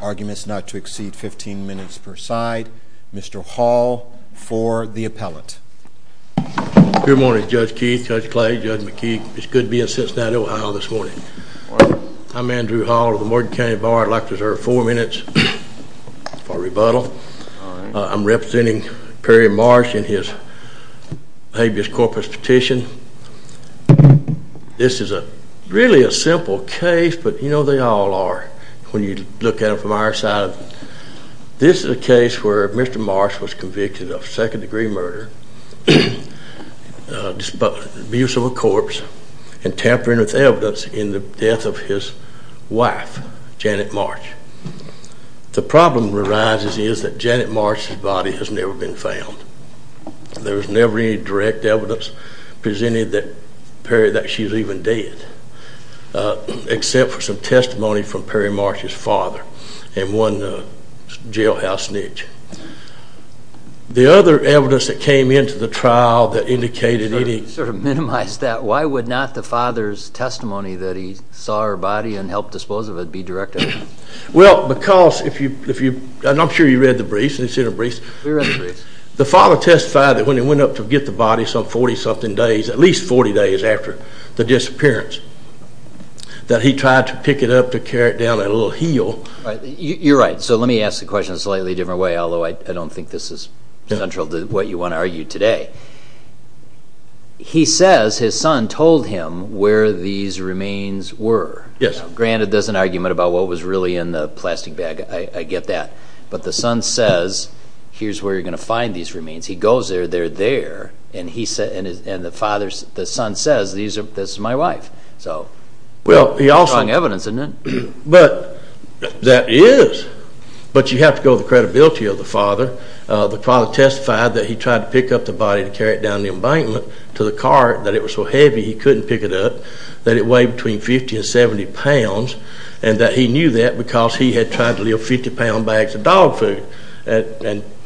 arguments not to exceed 15 minutes per side. Mr. Hall for the appellant. Good morning, Judge Keith, Judge Clay, Judge McKee. It's good to be in Cincinnati, Ohio, this morning. I'm Andrew Hall of the Morton County Bar. I'd like to reserve four minutes for the appellant, Judge McAllister, to present his argument. For rebuttal. I'm representing Perry Marsh in his habeas corpus petition. This is really a simple case, but you know they all are when you look at it from our side. This is a case where Mr. Marsh was convicted of second degree murder, abuse of a corpse, and tampering with evidence in the death of his wife, Janet Marsh. The problem arises is that Janet Marsh's body has never been found. There was never any direct evidence presenting that Perry, that she's even dead, except for some testimony from Perry Marsh's father and one jailhouse snitch. The other evidence that came into the trial that indicated any... Sort of minimize that. Why would not the father's testimony that he saw her body and helped dispose of it be direct evidence? Well, because if you, and I'm sure you read the briefs, the father testified that when he went up to get the body some 40 something days, at least 40 days after the disappearance, that he tried to pick it up to carry it down a little hill. You're right. So let me ask the question a slightly different way, although I don't think this is central to what you want to argue today. He says his son told him where these remains were. Yes. Granted, there's an argument about what was really in the plastic bag, I get that. But the son says, here's where you're going to find these remains. He goes there, they're there, and the son says, this is my wife. So, strong evidence, isn't it? But, that is. But you have to go with the credibility of the father. The father testified that he tried to pick up the body to carry it down the embankment to the cart, that it was so heavy he couldn't pick it up, that it weighed between 50 and 70 pounds, and that he knew that because he had tried to lift 50 pound bags of dog food of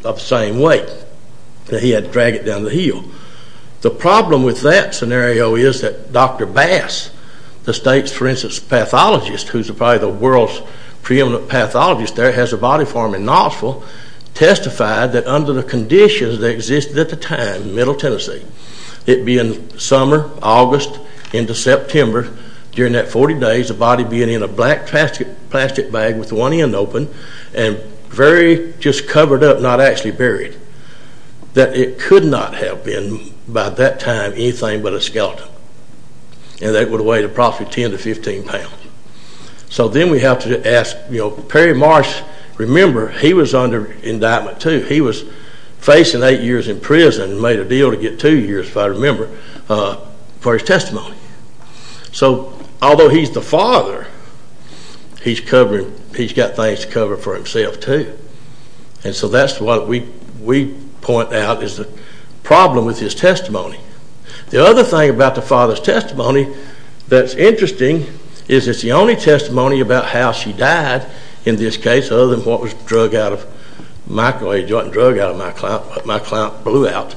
the same weight, that he had to drag it down the hill. The problem with that scenario is that Dr. Bass, the state's, for instance, pathologist, who's probably the world's preeminent pathologist there, has a body for him in Knoxville, testified that under the conditions that existed at the time, middle Tennessee, it being summer, August, into September, during that 40 days, the body being in a black plastic bag with one end open, and very just covered up, not actually buried, that it could not have been, by that time, anything but a skeleton, and that it would have weighed approximately 10 to 15 pounds. So, then we have to ask, Perry Marsh, remember, he was under indictment too. He was facing eight years in prison, made a deal to get two years, if I remember, for his testimony. So, although he's the father, he's got things to cover for himself too, and so that's what we point out is the problem with his testimony. The other thing about the father's testimony that's interesting is it's the only testimony about how she died, in this case, other than what was drug out of, microagent drug out of my client, what my client blew out,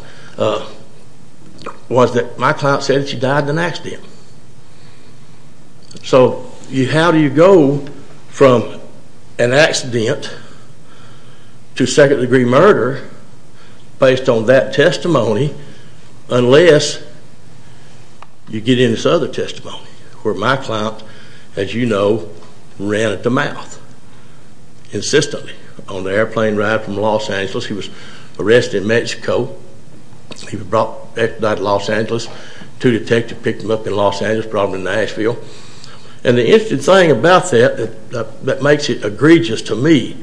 was that my client said that she died in an accident. So, how do you go from an accident to second degree murder, based on that testimony, unless you get into this other testimony, where my client, as you know, ran at the mouth, insistently, on the airplane ride from Los Angeles. He was arrested in Mexico. He was brought back to Los Angeles. Two detectives picked him up in Los Angeles, brought him to Nashville. And the interesting thing about that, that makes it egregious to me,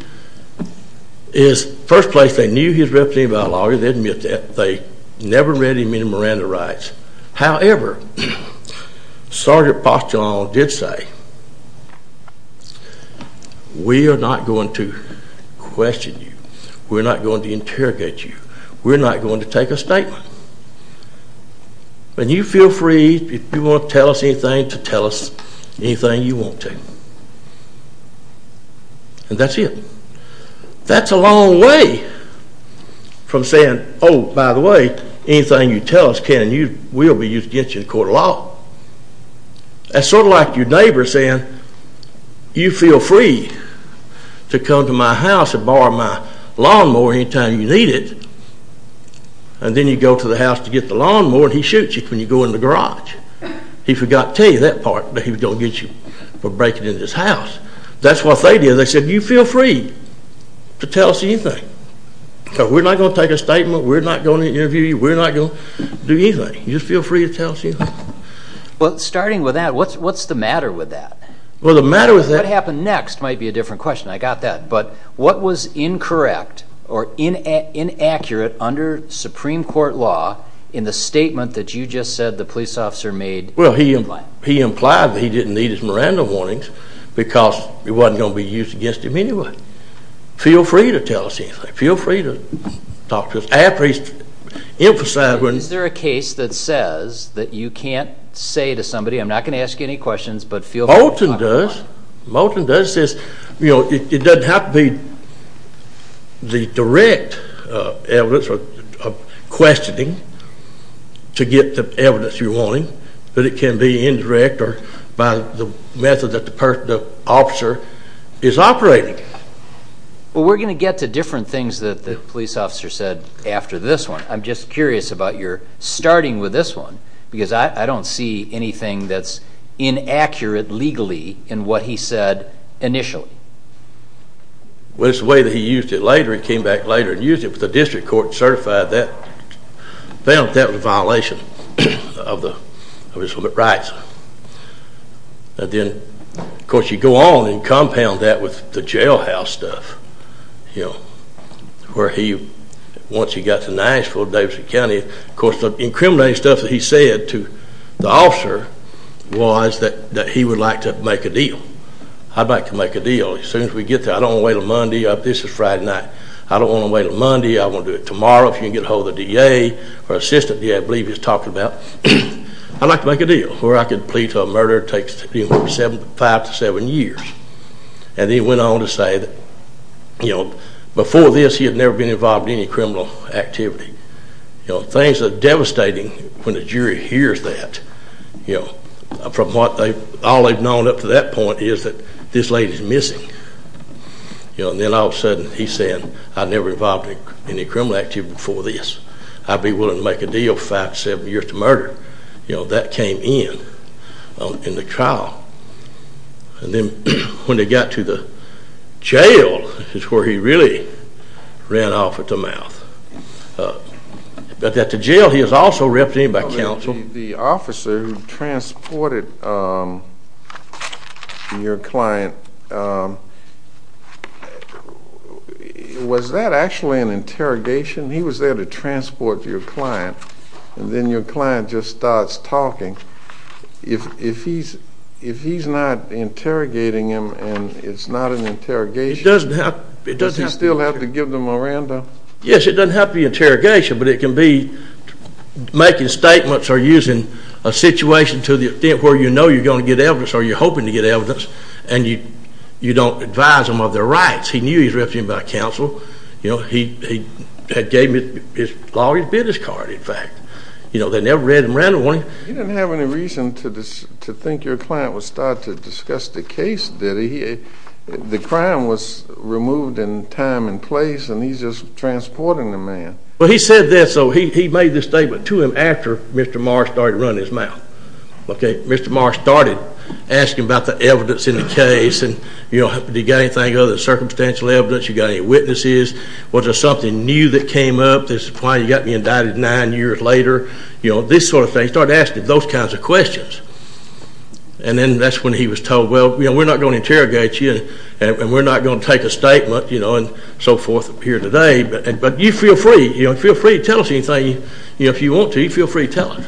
is, first place, they knew he was a representative by lawyer. They didn't admit that. They never read him in the Miranda Rights. However, Sergeant Postolano did say, we are not going to question you. We're not going to interrogate you. We're not going to take a statement. And you feel free, if you want to tell us anything, to tell us anything you want to. And that's it. That's a long way from saying, oh, by the way, anything you tell us can and will be used against you in court of law. That's sort of like your neighbor saying, you feel free to come to my house and borrow my lawnmower any time you need it. And then you go to the house to get the lawnmower, and he shoots you when you go in the garage. He forgot to tell you that part, that he was going to get you for breaking into his house. That's what they did. They said, you feel free to tell us anything. We're not going to take a statement. We're not going to interview you. We're not going to do anything. You just feel free to tell us anything. Well, starting with that, what's the matter with that? What happened next might be a different question. I got that. But what was incorrect or inaccurate under Supreme Court law in the statement that you just said the police officer made? Well, he implied that he didn't need his Miranda warnings because it wasn't going to be used against him anyway. Feel free to tell us anything. Feel free to talk to us. Is there a case that says that you can't say to somebody, I'm not going to ask you any questions, but feel free to talk to me? Moulton does. Moulton does. It doesn't have to be the direct evidence of questioning to get the evidence you're wanting, but it can be indirect or by the method that the officer is operating. Well, we're going to get to different things that the police officer said after this one. I'm just curious about your starting with this one because I don't see anything that's inaccurate legally in what he said initially. Well, it's the way that he used it later. He came back later and used it with the district court and certified that. Found that that was a violation of his limit rights. Then, of course, you go on and compound that with the jailhouse stuff. Once he got to Nashville, Davidson County, of course, the incriminating stuff that he said to the officer was that he would like to make a deal. I'd like to make a deal as soon as we get there. I don't want to wait until Monday. This is Friday night. I don't want to wait until Monday. I want to do it tomorrow if you can get ahold of the DA or assistant DA, I believe he was talking about. I'd like to make a deal where I could plead for a murder that takes five to seven years. Then he went on to say that before this he had never been involved in any criminal activity. Things are devastating when the jury hears that. From what all they've known up to that point is that this lady's missing. Then all of a sudden he's saying I never involved in any criminal activity before this. I'd be willing to make a deal five to seven years to murder. That came in in the trial. Then when he got to the jail is where he really ran off with the mouth. But at the jail he was also represented by counsel. The officer who transported your client, was that actually an interrogation? He was there to transport your client. Then your client just starts talking. If he's not interrogating him and it's not an interrogation, does he still have to give the Miranda? Yes, it doesn't have to be interrogation. But it can be making statements or using a situation to the extent where you know you're going to get evidence or you're hoping to get evidence and you don't advise them of their rights. He knew he was represented by counsel. He gave me his lawyer's business card, in fact. They never read him randomly. You didn't have any reason to think your client was starting to discuss the case, did he? The crime was removed in time and place and he's just transporting the man. He said this, so he made this statement to him after Mr. Marr started running his mouth. Mr. Marr started asking about the evidence in the case. Did you get anything other than circumstantial evidence? You got any witnesses? Was there something new that came up? This is why you got me indicted nine years later? This sort of thing. He started asking those kinds of questions. And then that's when he was told, well, we're not going to interrogate you and we're not going to take a statement and so forth here today, but you feel free to tell us anything if you want to. You feel free to tell us.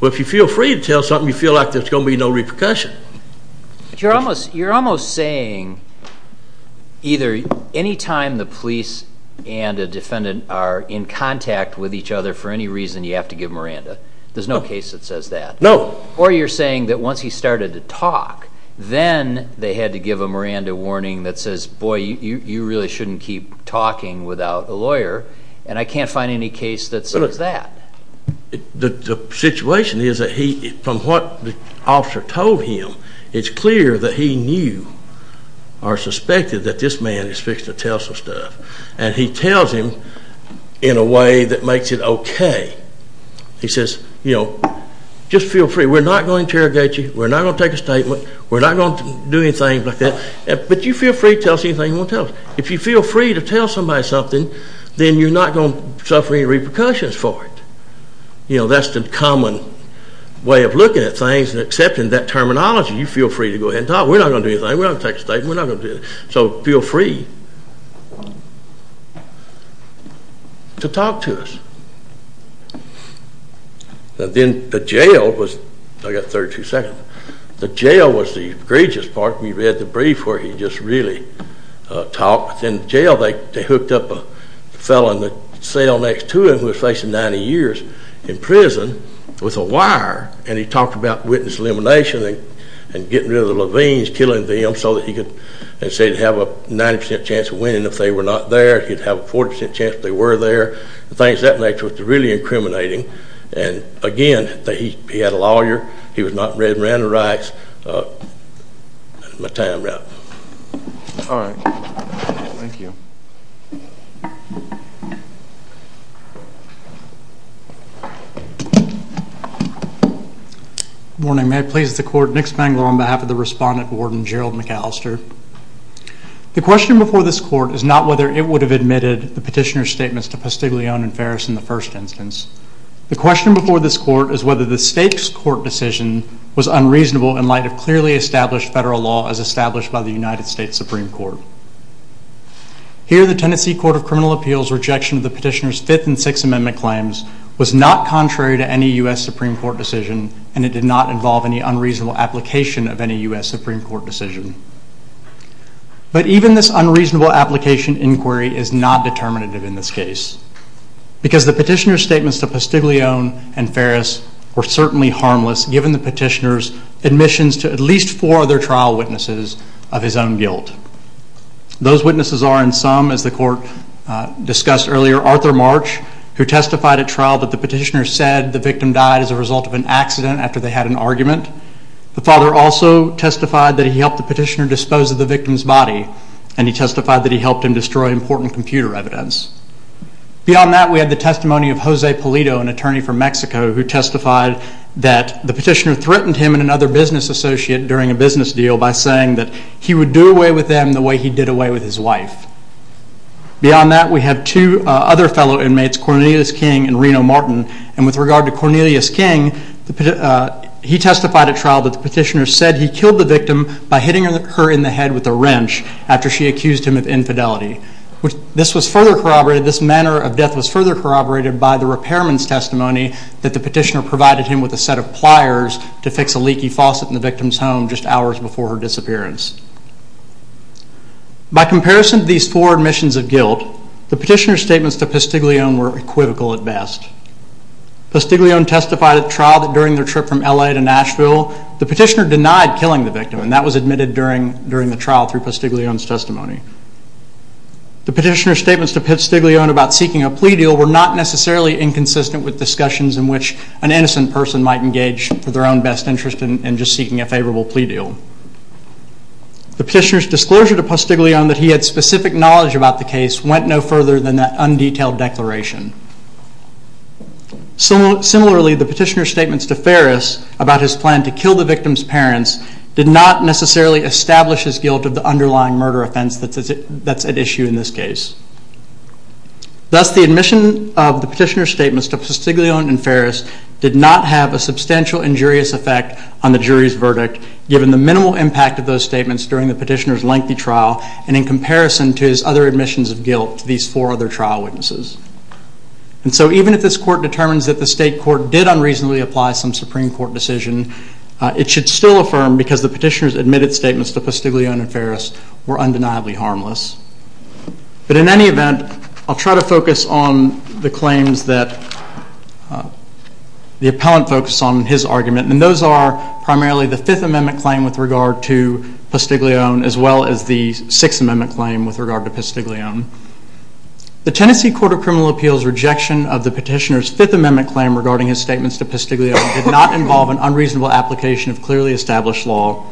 But if you feel free to tell something, you feel like there's going to be no repercussion. You're almost saying either any time the police and a defendant are in contact with each other for any reason, you have to give Miranda. There's no case that says that. No. Or you're saying that once he started to talk, then they had to give a Miranda warning that says, boy, you really shouldn't keep talking without a lawyer, and I can't find any case that says that. The situation is that from what the officer told him, it's clear that he knew or suspected that this man is fixed to tell some stuff. And he tells him in a way that makes it okay. He says, you know, just feel free. We're not going to interrogate you. We're not going to take a statement. We're not going to do anything like that. But you feel free to tell us anything you want to tell us. If you feel free to tell somebody something, then you're not going to suffer any repercussions for it. You know, that's the common way of looking at things and accepting that terminology. You feel free to go ahead and talk. We're not going to do anything. We're not going to take a statement. We're not going to do anything. So feel free to talk to us. Then the jail was, I've got 32 seconds. The jail was the egregious part. We read the brief where he just really talked. In jail they hooked up a fellow in the cell next to him who was facing 90 years in prison with a wire, and he talked about witness elimination and getting rid of the Levines, killing them, so that he could have a 90% chance of winning if they were not there. He'd have a 40% chance if they were there. The things of that nature was really incriminating. And again, he had a lawyer. He was not read and ran the rights. That's my time wrap. All right. Thank you. Good morning. May it please the court, Nick Spangler on behalf of the respondent warden, Gerald McAllister. The question before this court is not whether it would have admitted the petitioner's statements to Pastiglione and Ferris in the first instance. The question before this court is whether the state's court decision was unreasonable in light of clearly established federal law as established by the United States Supreme Court. Here, the Tennessee Court of Criminal Appeals' rejection of the petitioner's Fifth and Sixth Amendment claims was not contrary to any U.S. Supreme Court decision, and it did not involve any unreasonable application of any U.S. Supreme Court decision. But even this unreasonable application inquiry is not determinative in this case, because the petitioner's statements to Pastiglione and Ferris were certainly harmless, given the petitioner's admissions to at least four other trial witnesses of his own guilt. Those witnesses are, in sum, as the court discussed earlier, Arthur March, who testified at trial that the petitioner said the victim died as a result of an accident after they had an argument. The father also testified that he helped the petitioner dispose of the victim's body, and he testified that he helped him destroy important computer evidence. Beyond that, we have the testimony of Jose Pulido, an attorney from Mexico, who testified that the petitioner threatened him and another business associate during a business deal by saying that he would do away with them the way he did away with his wife. Beyond that, we have two other fellow inmates, Cornelius King and Reno Martin, and with regard to Cornelius King, he testified at trial that the petitioner said he killed the victim by hitting her in the head with a wrench after she accused him of infidelity. This manner of death was further corroborated by the repairman's testimony that the petitioner provided him with a set of pliers to fix a leaky faucet in the victim's home just hours before her disappearance. By comparison to these four admissions of guilt, the petitioner's statements to Postiglione were equivocal at best. Postiglione testified at trial that during their trip from L.A. to Nashville, the petitioner denied killing the victim, and that was admitted during the trial through Postiglione's testimony. The petitioner's statements to Postiglione about seeking a plea deal were not necessarily inconsistent with discussions in which an innocent person might engage for their own best interest in just seeking a favorable plea deal. The petitioner's disclosure to Postiglione that he had specific knowledge about the case went no further than that undetailed declaration. Similarly, the petitioner's statements to Ferris about his plan to kill the victim's parents did not necessarily establish his guilt of the underlying murder offense that's at issue in this case. Thus, the admission of the petitioner's statements to Postiglione and Ferris did not have a substantial injurious effect on the jury's verdict, given the minimal impact of those statements during the petitioner's lengthy trial, and in comparison to his other admissions of guilt to these four other trial witnesses. And so even if this court determines that the state court did unreasonably apply some Supreme Court decision, it should still affirm because the petitioner's admitted statements to Postiglione and Ferris were undeniably harmless. But in any event, I'll try to focus on the claims that the appellant focused on in his argument, and those are primarily the Fifth Amendment claim with regard to Postiglione, as well as the Sixth Amendment claim with regard to Postiglione. The Tennessee Court of Criminal Appeals' rejection of the petitioner's Fifth Amendment claim regarding his statements to Postiglione did not involve an unreasonable application of clearly established law,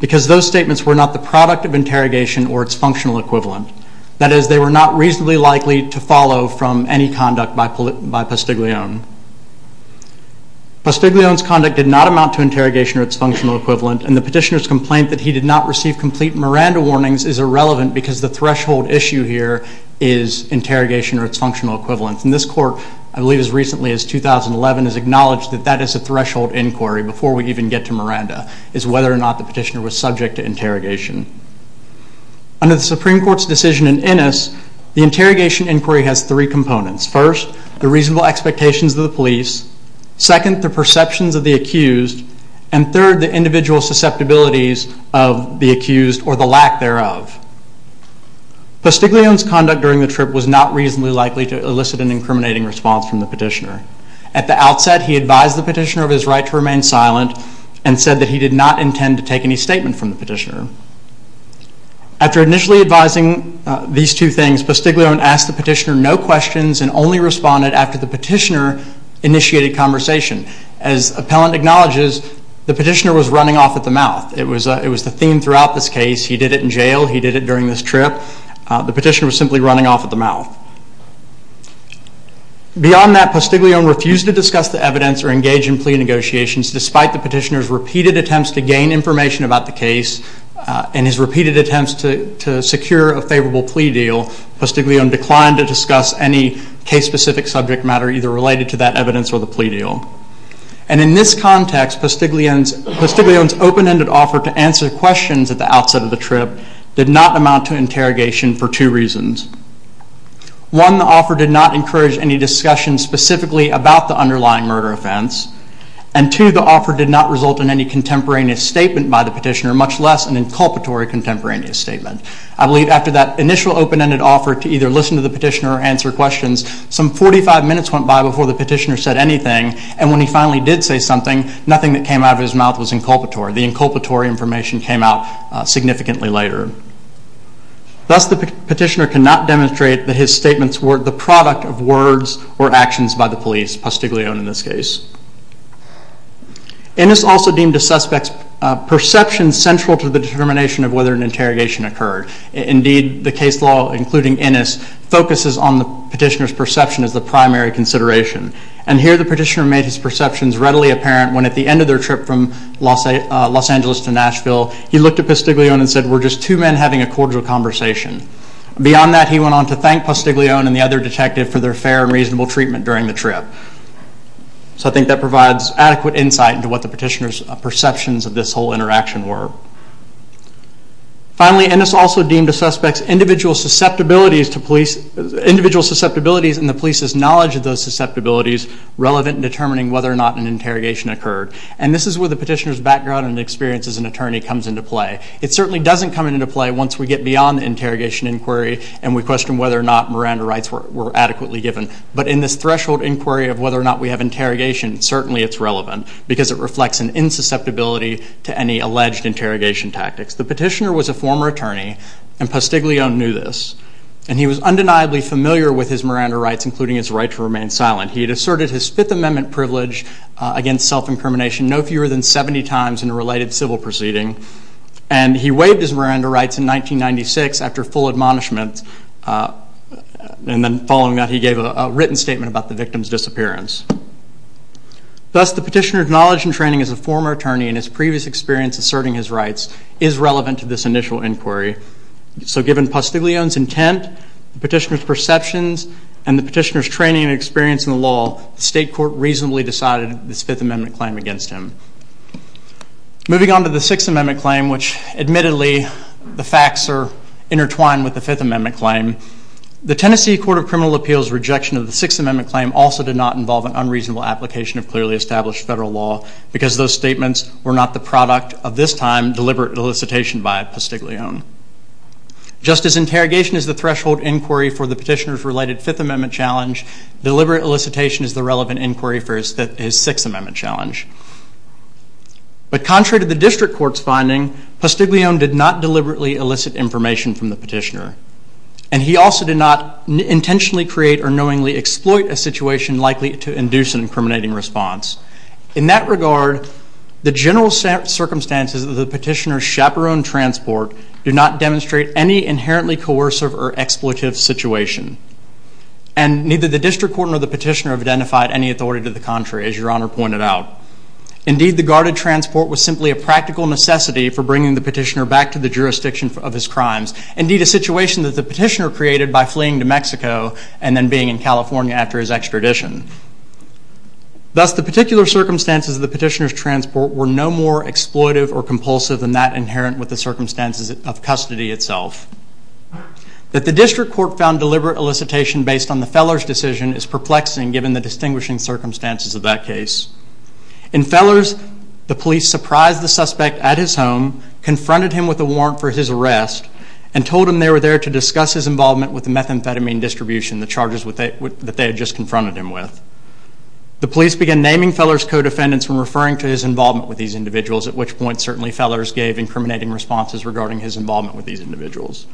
because those statements were not the product of interrogation or its functional equivalent. That is, they were not reasonably likely to follow from any conduct by Postiglione. Postiglione's conduct did not amount to the petitioner's complaint that he did not receive complete Miranda warnings is irrelevant because the threshold issue here is interrogation or its functional equivalent. And this court, I believe as recently as 2011, has acknowledged that that is a threshold inquiry before we even get to Miranda, is whether or not the petitioner was subject to interrogation. Under the Supreme Court's decision in Innis, the interrogation inquiry has three components. First, the reasonable expectations of the police. Second, the perceptions of the accused. And third, the individual susceptibilities of the accused or the lack thereof. Postiglione's conduct during the trip was not reasonably likely to elicit an incriminating response from the petitioner. At the outset, he advised the petitioner of his right to remain silent and said that he did not intend to take any statement from the petitioner. After initially advising these two things, Postiglione asked the petitioner no questions and only responded after the petitioner initiated conversation. As appellant acknowledges, the petitioner was running off at the mouth. It was the theme throughout this case. He did it in jail, he did it during this trip. The petitioner was simply running off at the mouth. Beyond that, Postiglione refused to discuss the evidence or engage in plea negotiations despite the petitioner's repeated attempts to gain information about the case and his repeated attempts to secure a favorable plea deal. Postiglione declined to discuss any case-specific subject matter either related to that evidence or the plea deal. And in this context, Postiglione's open-ended offer to answer questions at the outset of the trip did not amount to interrogation for two reasons. One, the offer did not encourage any discussion specifically about the underlying murder offense. And two, the offer did not result in any contemporaneous statement by the petitioner, much less an inculpatory contemporaneous statement. I believe after that initial open-ended offer to either listen to the petitioner or answer questions, some 45 minutes went by before the petitioner said anything and when he finally did say something, nothing that came out of his mouth was inculpatory. The inculpatory information came out significantly later. Thus, the petitioner cannot demonstrate that his statements were the product of words or actions by the police, Postiglione in this case. Innis also deemed a suspect's perception central to the determination of whether an interrogation occurred. Indeed, the case law, including Innis, focuses on the petitioner's perception as the primary consideration. And here the petitioner made his perceptions readily apparent when at the end of their trip from Los Angeles to Nashville, he looked at Postiglione and said, we're just two men having a cordial conversation. Beyond that, he went on to thank Postiglione and the other detective for their fair and reasonable treatment during the trip. So I think that provides adequate insight into what the petitioner's perceptions of this whole interaction were. Finally, Innis also deemed a suspect's individual susceptibilities and the police's knowledge of those susceptibilities relevant in determining whether or not an interrogation occurred. And this is where the petitioner's background and experience as an attorney comes into play. It certainly doesn't come into play once we get beyond the interrogation inquiry and we question whether or not Miranda rights were adequately given. But in this threshold inquiry of whether or not we have interrogation, certainly it's relevant because it reflects an insusceptibility to any alleged interrogation tactics. The petitioner was a former attorney and Postiglione knew this. And he was undeniably familiar with his Miranda rights, including his right to remain silent. He had asserted his Fifth Amendment privilege against self-incrimination no fewer than 70 times in a related civil proceeding. And he waived his Miranda rights in 1996 after full admonishment. And then following that, he gave a written statement about the victim's disappearance. Thus, the petitioner's knowledge and training as a former attorney and his previous experience asserting his rights is relevant to this initial inquiry. So given Postiglione's intent, the petitioner's perceptions, and the petitioner's training and experience in the law, the state court reasonably decided this Fifth Amendment claim against him. Moving on to the Sixth Amendment claim, which admittedly, the facts are intertwined with the Fifth Amendment claim. The Tennessee Court of Criminal Appeals' rejection of the Sixth Amendment claim also did not involve an unreasonable application of clearly established federal law because those statements were not the product of this time deliberate elicitation by Postiglione. Just as interrogation is the threshold inquiry for the petitioner's related Fifth Amendment challenge, deliberate elicitation is the relevant inquiry for his Sixth Amendment challenge. But contrary to the district court's finding, Postiglione did not deliberately elicit information from the petitioner. And he also did not intentionally create or knowingly exploit a situation likely to induce an incriminating response. In that regard, the general circumstances of the petitioner's chaperone transport do not demonstrate any inherently coercive or exploitive situation. And neither the district court nor the petitioner have identified any authority to the contrary, as Your Honor pointed out. Indeed, the guarded transport was simply a practical necessity for bringing the petitioner back to the jurisdiction of his crimes. Indeed, a situation that the petitioner created by fleeing to Mexico and then being in California after his extradition. Thus, the particular circumstances of the petitioner's transport were no more exploitive or compulsive than that inherent with the circumstances of custody itself. That the district court found deliberate elicitation based on the Feller's decision is perplexing given the distinguishing circumstances of that case. In Feller's, the police surprised the suspect at his home, confronted him with a warrant for his arrest, and told him they were there to discuss his involvement with the methamphetamine distribution, the charges that they had just confronted him with. The police began naming Feller's co-defendants when referring to his involvement with these individuals, at which point certainly Feller's gave incriminating responses regarding his involvement with these individuals.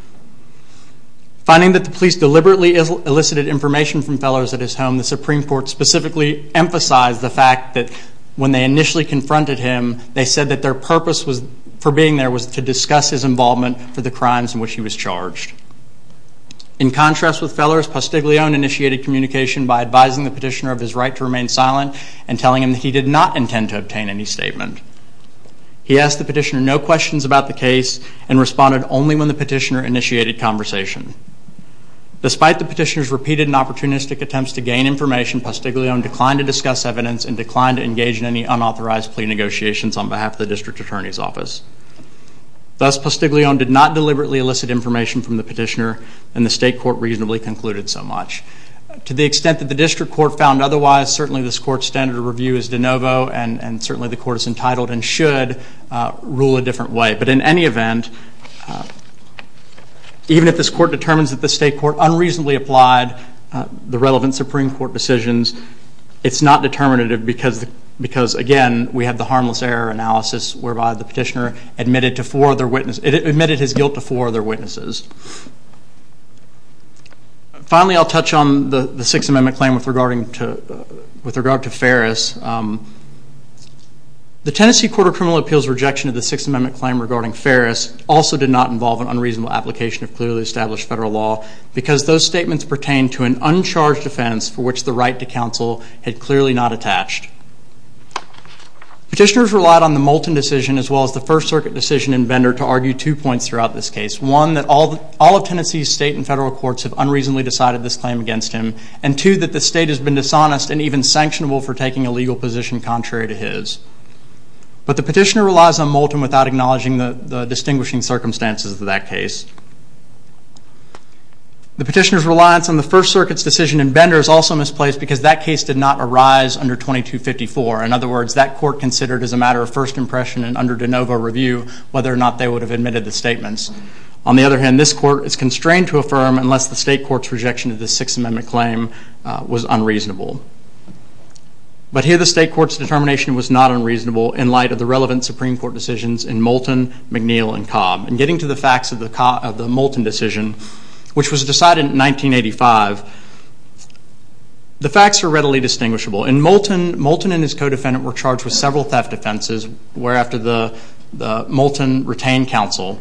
Finding that the police deliberately elicited information from Feller's at his home, the Supreme Court specifically emphasized the fact that when they initially confronted him, they said that their purpose for being there was to discuss his involvement for the crimes in which he was charged. In contrast with Feller's, Postiglione initiated communication by advising the petitioner of his right to remain silent and telling him that he did not intend to obtain any statement. He asked the petitioner no questions about the case and responded only when the petitioner initiated conversation. Despite the petitioner's repeated and opportunistic attempts to gain information, Postiglione declined to discuss evidence and declined to engage in any unauthorized plea negotiations on behalf of the district attorney's office. Thus, Postiglione did not deliberately elicit information from the petitioner and the state court reasonably concluded so much. To the extent that the district court found otherwise, certainly this court's standard of review is de novo and certainly the court is entitled and should rule a different way. But in any event, even if this court determines that the state court unreasonably applied the relevant Supreme Court decisions, it's not determinative because again, we have the harmless error analysis whereby the petitioner admitted to four other witnesses, admitted his guilt to four other witnesses. Finally, I'll touch on the Sixth Amendment claim with regard to Ferris. The Tennessee Court of Criminal Appeals rejection of the Sixth Amendment claim regarding Ferris also did not involve an unreasonable application of clearly established federal law because those statements pertain to an uncharged offense for which the right to counsel had clearly not attached. Petitioners relied on the Moulton decision as well as the First Circuit decision in Bender to argue two points throughout this case. One, that all of Tennessee's state and federal courts and two, that the state has been dishonest and even sanctionable for taking a legal action in a legal position contrary to his. But the petitioner relies on Moulton without acknowledging the distinguishing circumstances of that case. The petitioner's reliance on the First Circuit's decision in Bender is also misplaced because that case did not arise under 2254. In other words, that court considered as a matter of first impression and under de novo review whether or not they would have admitted the statements. On the other hand, this court is constrained to affirm unless the state court's rejection of the Sixth Amendment claim was unreasonable. Clearly, the state court's determination was not unreasonable in light of the relevant Supreme Court decisions in Moulton, McNeil, and Cobb. And getting to the facts of the Moulton decision, which was decided in 1985, the facts are readily distinguishable. In Moulton, Moulton and his co-defendant were charged with several theft offenses where after the Moulton retained counsel.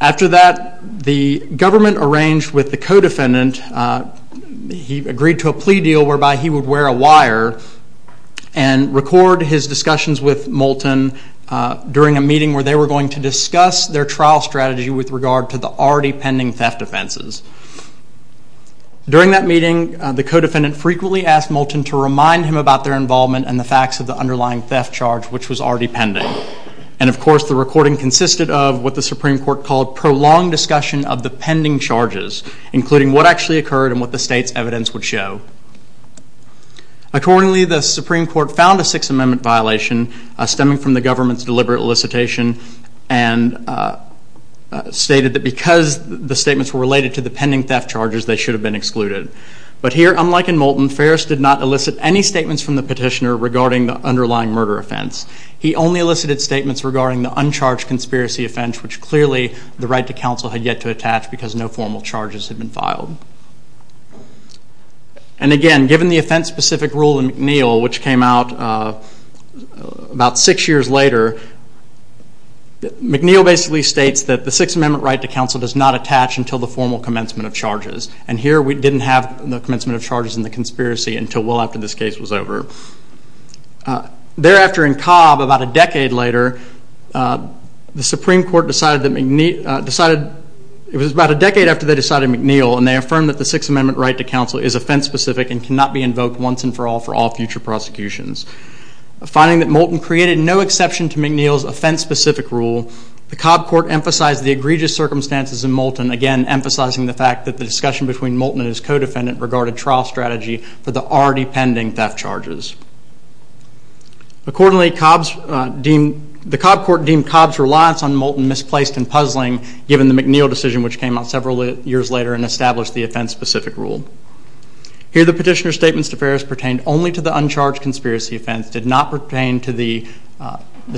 After that, the government arranged with the co-defendant, he agreed to a plea deal whereby he would wear a wire and record his discussions with Moulton during a meeting where they were going to discuss their trial strategy with regard to the already pending theft offenses. During that meeting, the co-defendant frequently asked Moulton to remind him about their involvement and the facts of the underlying theft charge, which was already pending. And of course, the recording consisted of what the Supreme Court called prolonged discussion of the pending charges, including what actually occurred and what the state's evidence would show. Accordingly, the Supreme Court found a Sixth Amendment violation stemming from the government's deliberate elicitation and stated that because the statements were related to the pending theft charges, they should have been excluded. But here, unlike in Moulton, Ferris did not elicit any statements from the petitioner regarding the underlying murder offense. He only elicited statements regarding the uncharged conspiracy offense, which clearly the right to counsel had yet to attach because no formal charges had been filed. And again, given the offense-specific rule in McNeil, which came out about six years later, McNeil basically states that the Sixth Amendment right to counsel does not attach until the formal commencement of charges. And here, we didn't have the commencement of charges in the conspiracy until well after this case was over. Thereafter, in Cobb, about a decade later, the Supreme Court decided that McNeil, decided, it was about a decade after they decided McNeil, and they affirmed that the Sixth Amendment right to counsel is offense-specific and cannot be invoked once and for all for all future prosecutions. Finding that Moulton created no exception to McNeil's offense-specific rule, the Cobb Court emphasized the egregious circumstances in Moulton, again, emphasizing the fact that the discussion between Moulton and his co-defendant regarded trial strategy for the already pending theft charges. Accordingly, the Cobb Court deemed Cobb's reliance on Moulton misplaced and puzzling given the McNeil decision which came out several years later and established the offense-specific rule. Here, the petitioner's statements to Ferris pertained only to the uncharged conspiracy offense, did not pertain to the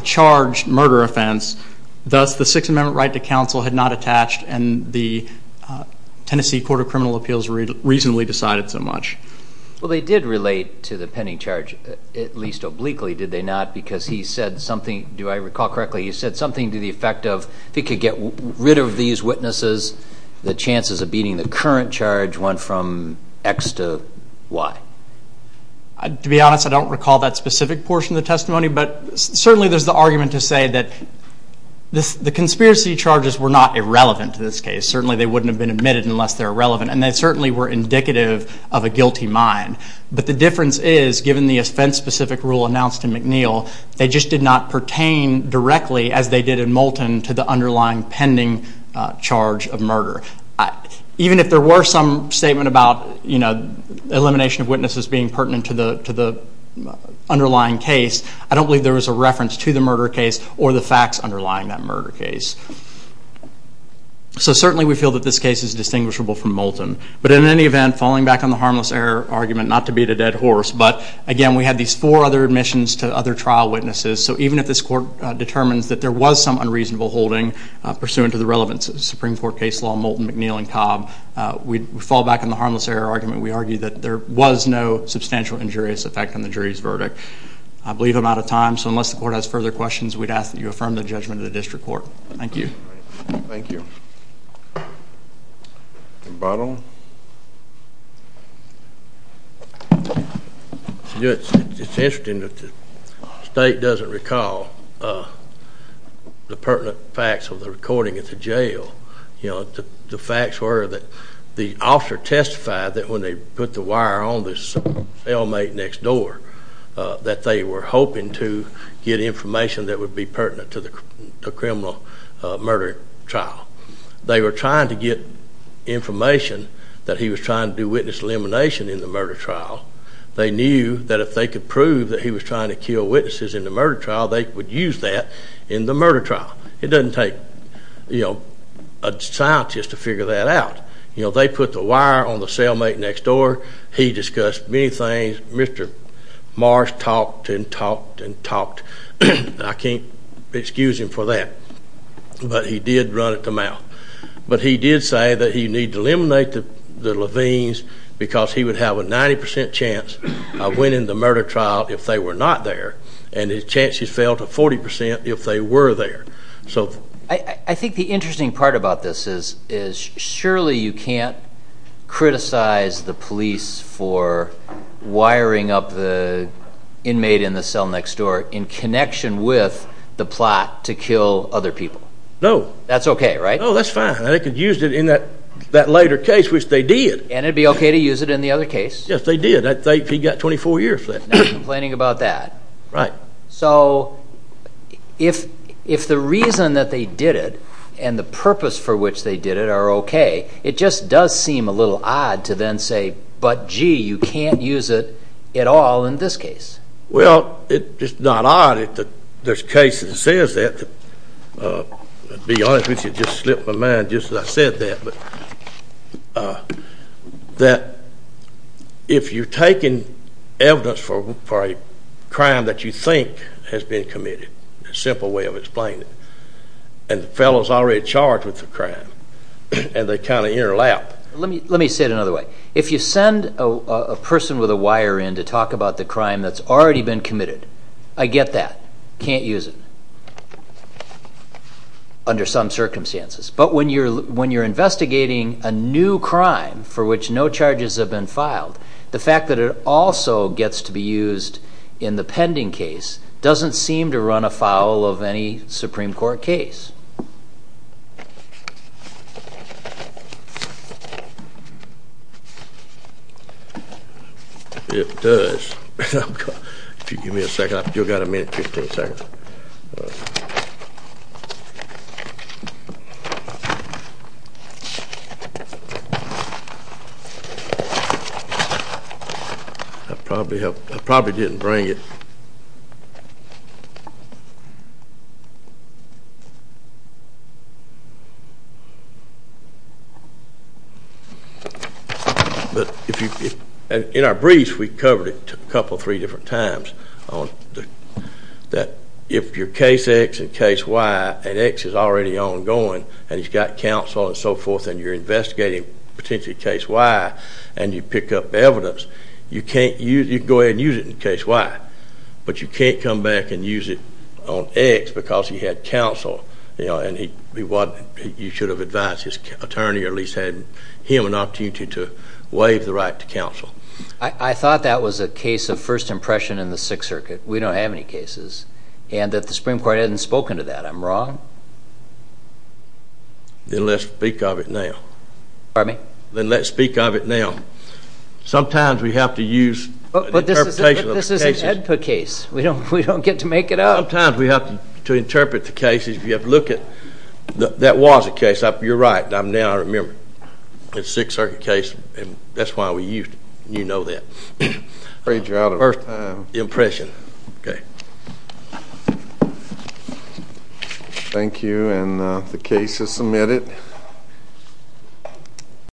charged murder offense. Thus, the Sixth Amendment right to counsel had not attached and the Tennessee Court of Criminal Appeals reasonably decided so much. Well, they did relate to the pending charge, at least obliquely, did they not? Because he said something, do I recall correctly, he said something to the effect of if he could get rid of these witnesses, the chances of beating the current charge went from X to Y. To be honest, I don't recall that specific portion of the testimony, but certainly there's the argument to say that the conspiracy charges were not irrelevant to this case. Certainly they wouldn't have been admitted unless they're relevant and they certainly were indicative of a guilty mind. But the difference is, given the offense-specific rule announced in McNeil, they just did not pertain directly, as they did in Moulton, to the underlying pending charge of murder. Even if there were some statement about elimination of witnesses being pertinent to the underlying case, I don't believe there was a reference to the murder case or the facts underlying that murder case. So certainly we feel that this case is distinguishable from Moulton. But in any event, falling back on the harmless error argument, not to beat a dead horse, but again, we had these four other admissions to other trial witnesses, so even if this court determines that there was some unreasonable holding pursuant to the relevance of the Supreme Court case law, Moulton, McNeil, and Cobb, we fall back on the harmless error argument. We argue that there was no substantial injurious effect on the jury's verdict. I believe I'm out of time, so unless the court has further questions, we'd ask that you affirm the judgment of the district court. Thank you. Thank you. Mr. Bottle? It's interesting that the state doesn't recall the pertinent facts of the recording at the jail. The facts were that the officer testified that when they put the wire on this cellmate next door, that they were hoping to get information that would be pertinent to the criminal murder trial. They were trying to get information that he was trying to do witness elimination in the murder trial. They knew that if they could prove that he was trying to kill witnesses in the murder trial, they would use that in the murder trial. It doesn't take, you know, a scientist to figure that out. You know, they put the wire on the cellmate next door. He discussed many things. Mr. Marsh talked and talked and talked. I can't excuse him for that, but he did run it to mouth. But he did say that he needed to eliminate the Levines because he would have a 90% chance of winning the murder trial if they were not there, and his chances fell to 40% if they were there. So... I think the interesting part about this is surely you can't criticize the police for wiring up the inmate in the cell next door in connection with the plot to kill other people. No. That's okay, right? No, that's fine. They could use it in that later case, which they did. And it'd be okay to use it in the other case. Yes, they did. He got 24 years for that. No complaining about that. Right. So... if the reason that they did it and the purpose for which they did it are okay, it just does seem a little odd to then say, but gee, you can't use it at all in this case. Well, it's not odd if there's a case that says that. To be honest with you, it just slipped my mind just as I said that. But... uh... that... if you're taking evidence for a crime that you think has been committed, a simple way of explaining it, and the fellow's already charged with the crime, and they kind of interlap... Let me say it another way. If you send a person with a wire in to talk about the crime that's already been committed, I get that. Can't use it. Under some circumstances. But when you're investigating a new crime for which no charges have been filed, the fact that it also gets to be used in the pending case doesn't seem to run afoul of any Supreme Court case. It does. If you give me a second, I've still got a minute, 15 seconds. I probably helped... I probably didn't bring it. But if you... In our briefs, we covered it a couple, three different times. That if you're case X and case Y, and X is already ongoing, and he's got counsel and so forth, and you're investigating potentially case Y, and you pick up evidence, you can go ahead and use it in case Y. But you can't come back and use it on X because he had counsel, and you should have advised his attorney or at least had him an opportunity to waive the right to counsel. I thought that was a case of first impression in the Sixth Circuit. We don't have any cases. And that the Supreme Court hasn't spoken to that. I'm wrong? Then let's speak of it now. Pardon me? Then let's speak of it now. Sometimes we have to use... But this is an AEDPA case. We don't get to make it up. Sometimes we have to interpret the cases. We have to look at... That was a case. You're right. Now I remember. The Sixth Circuit case, and that's why we used it. You know that. First impression. Okay. Thank you. And the case is submitted.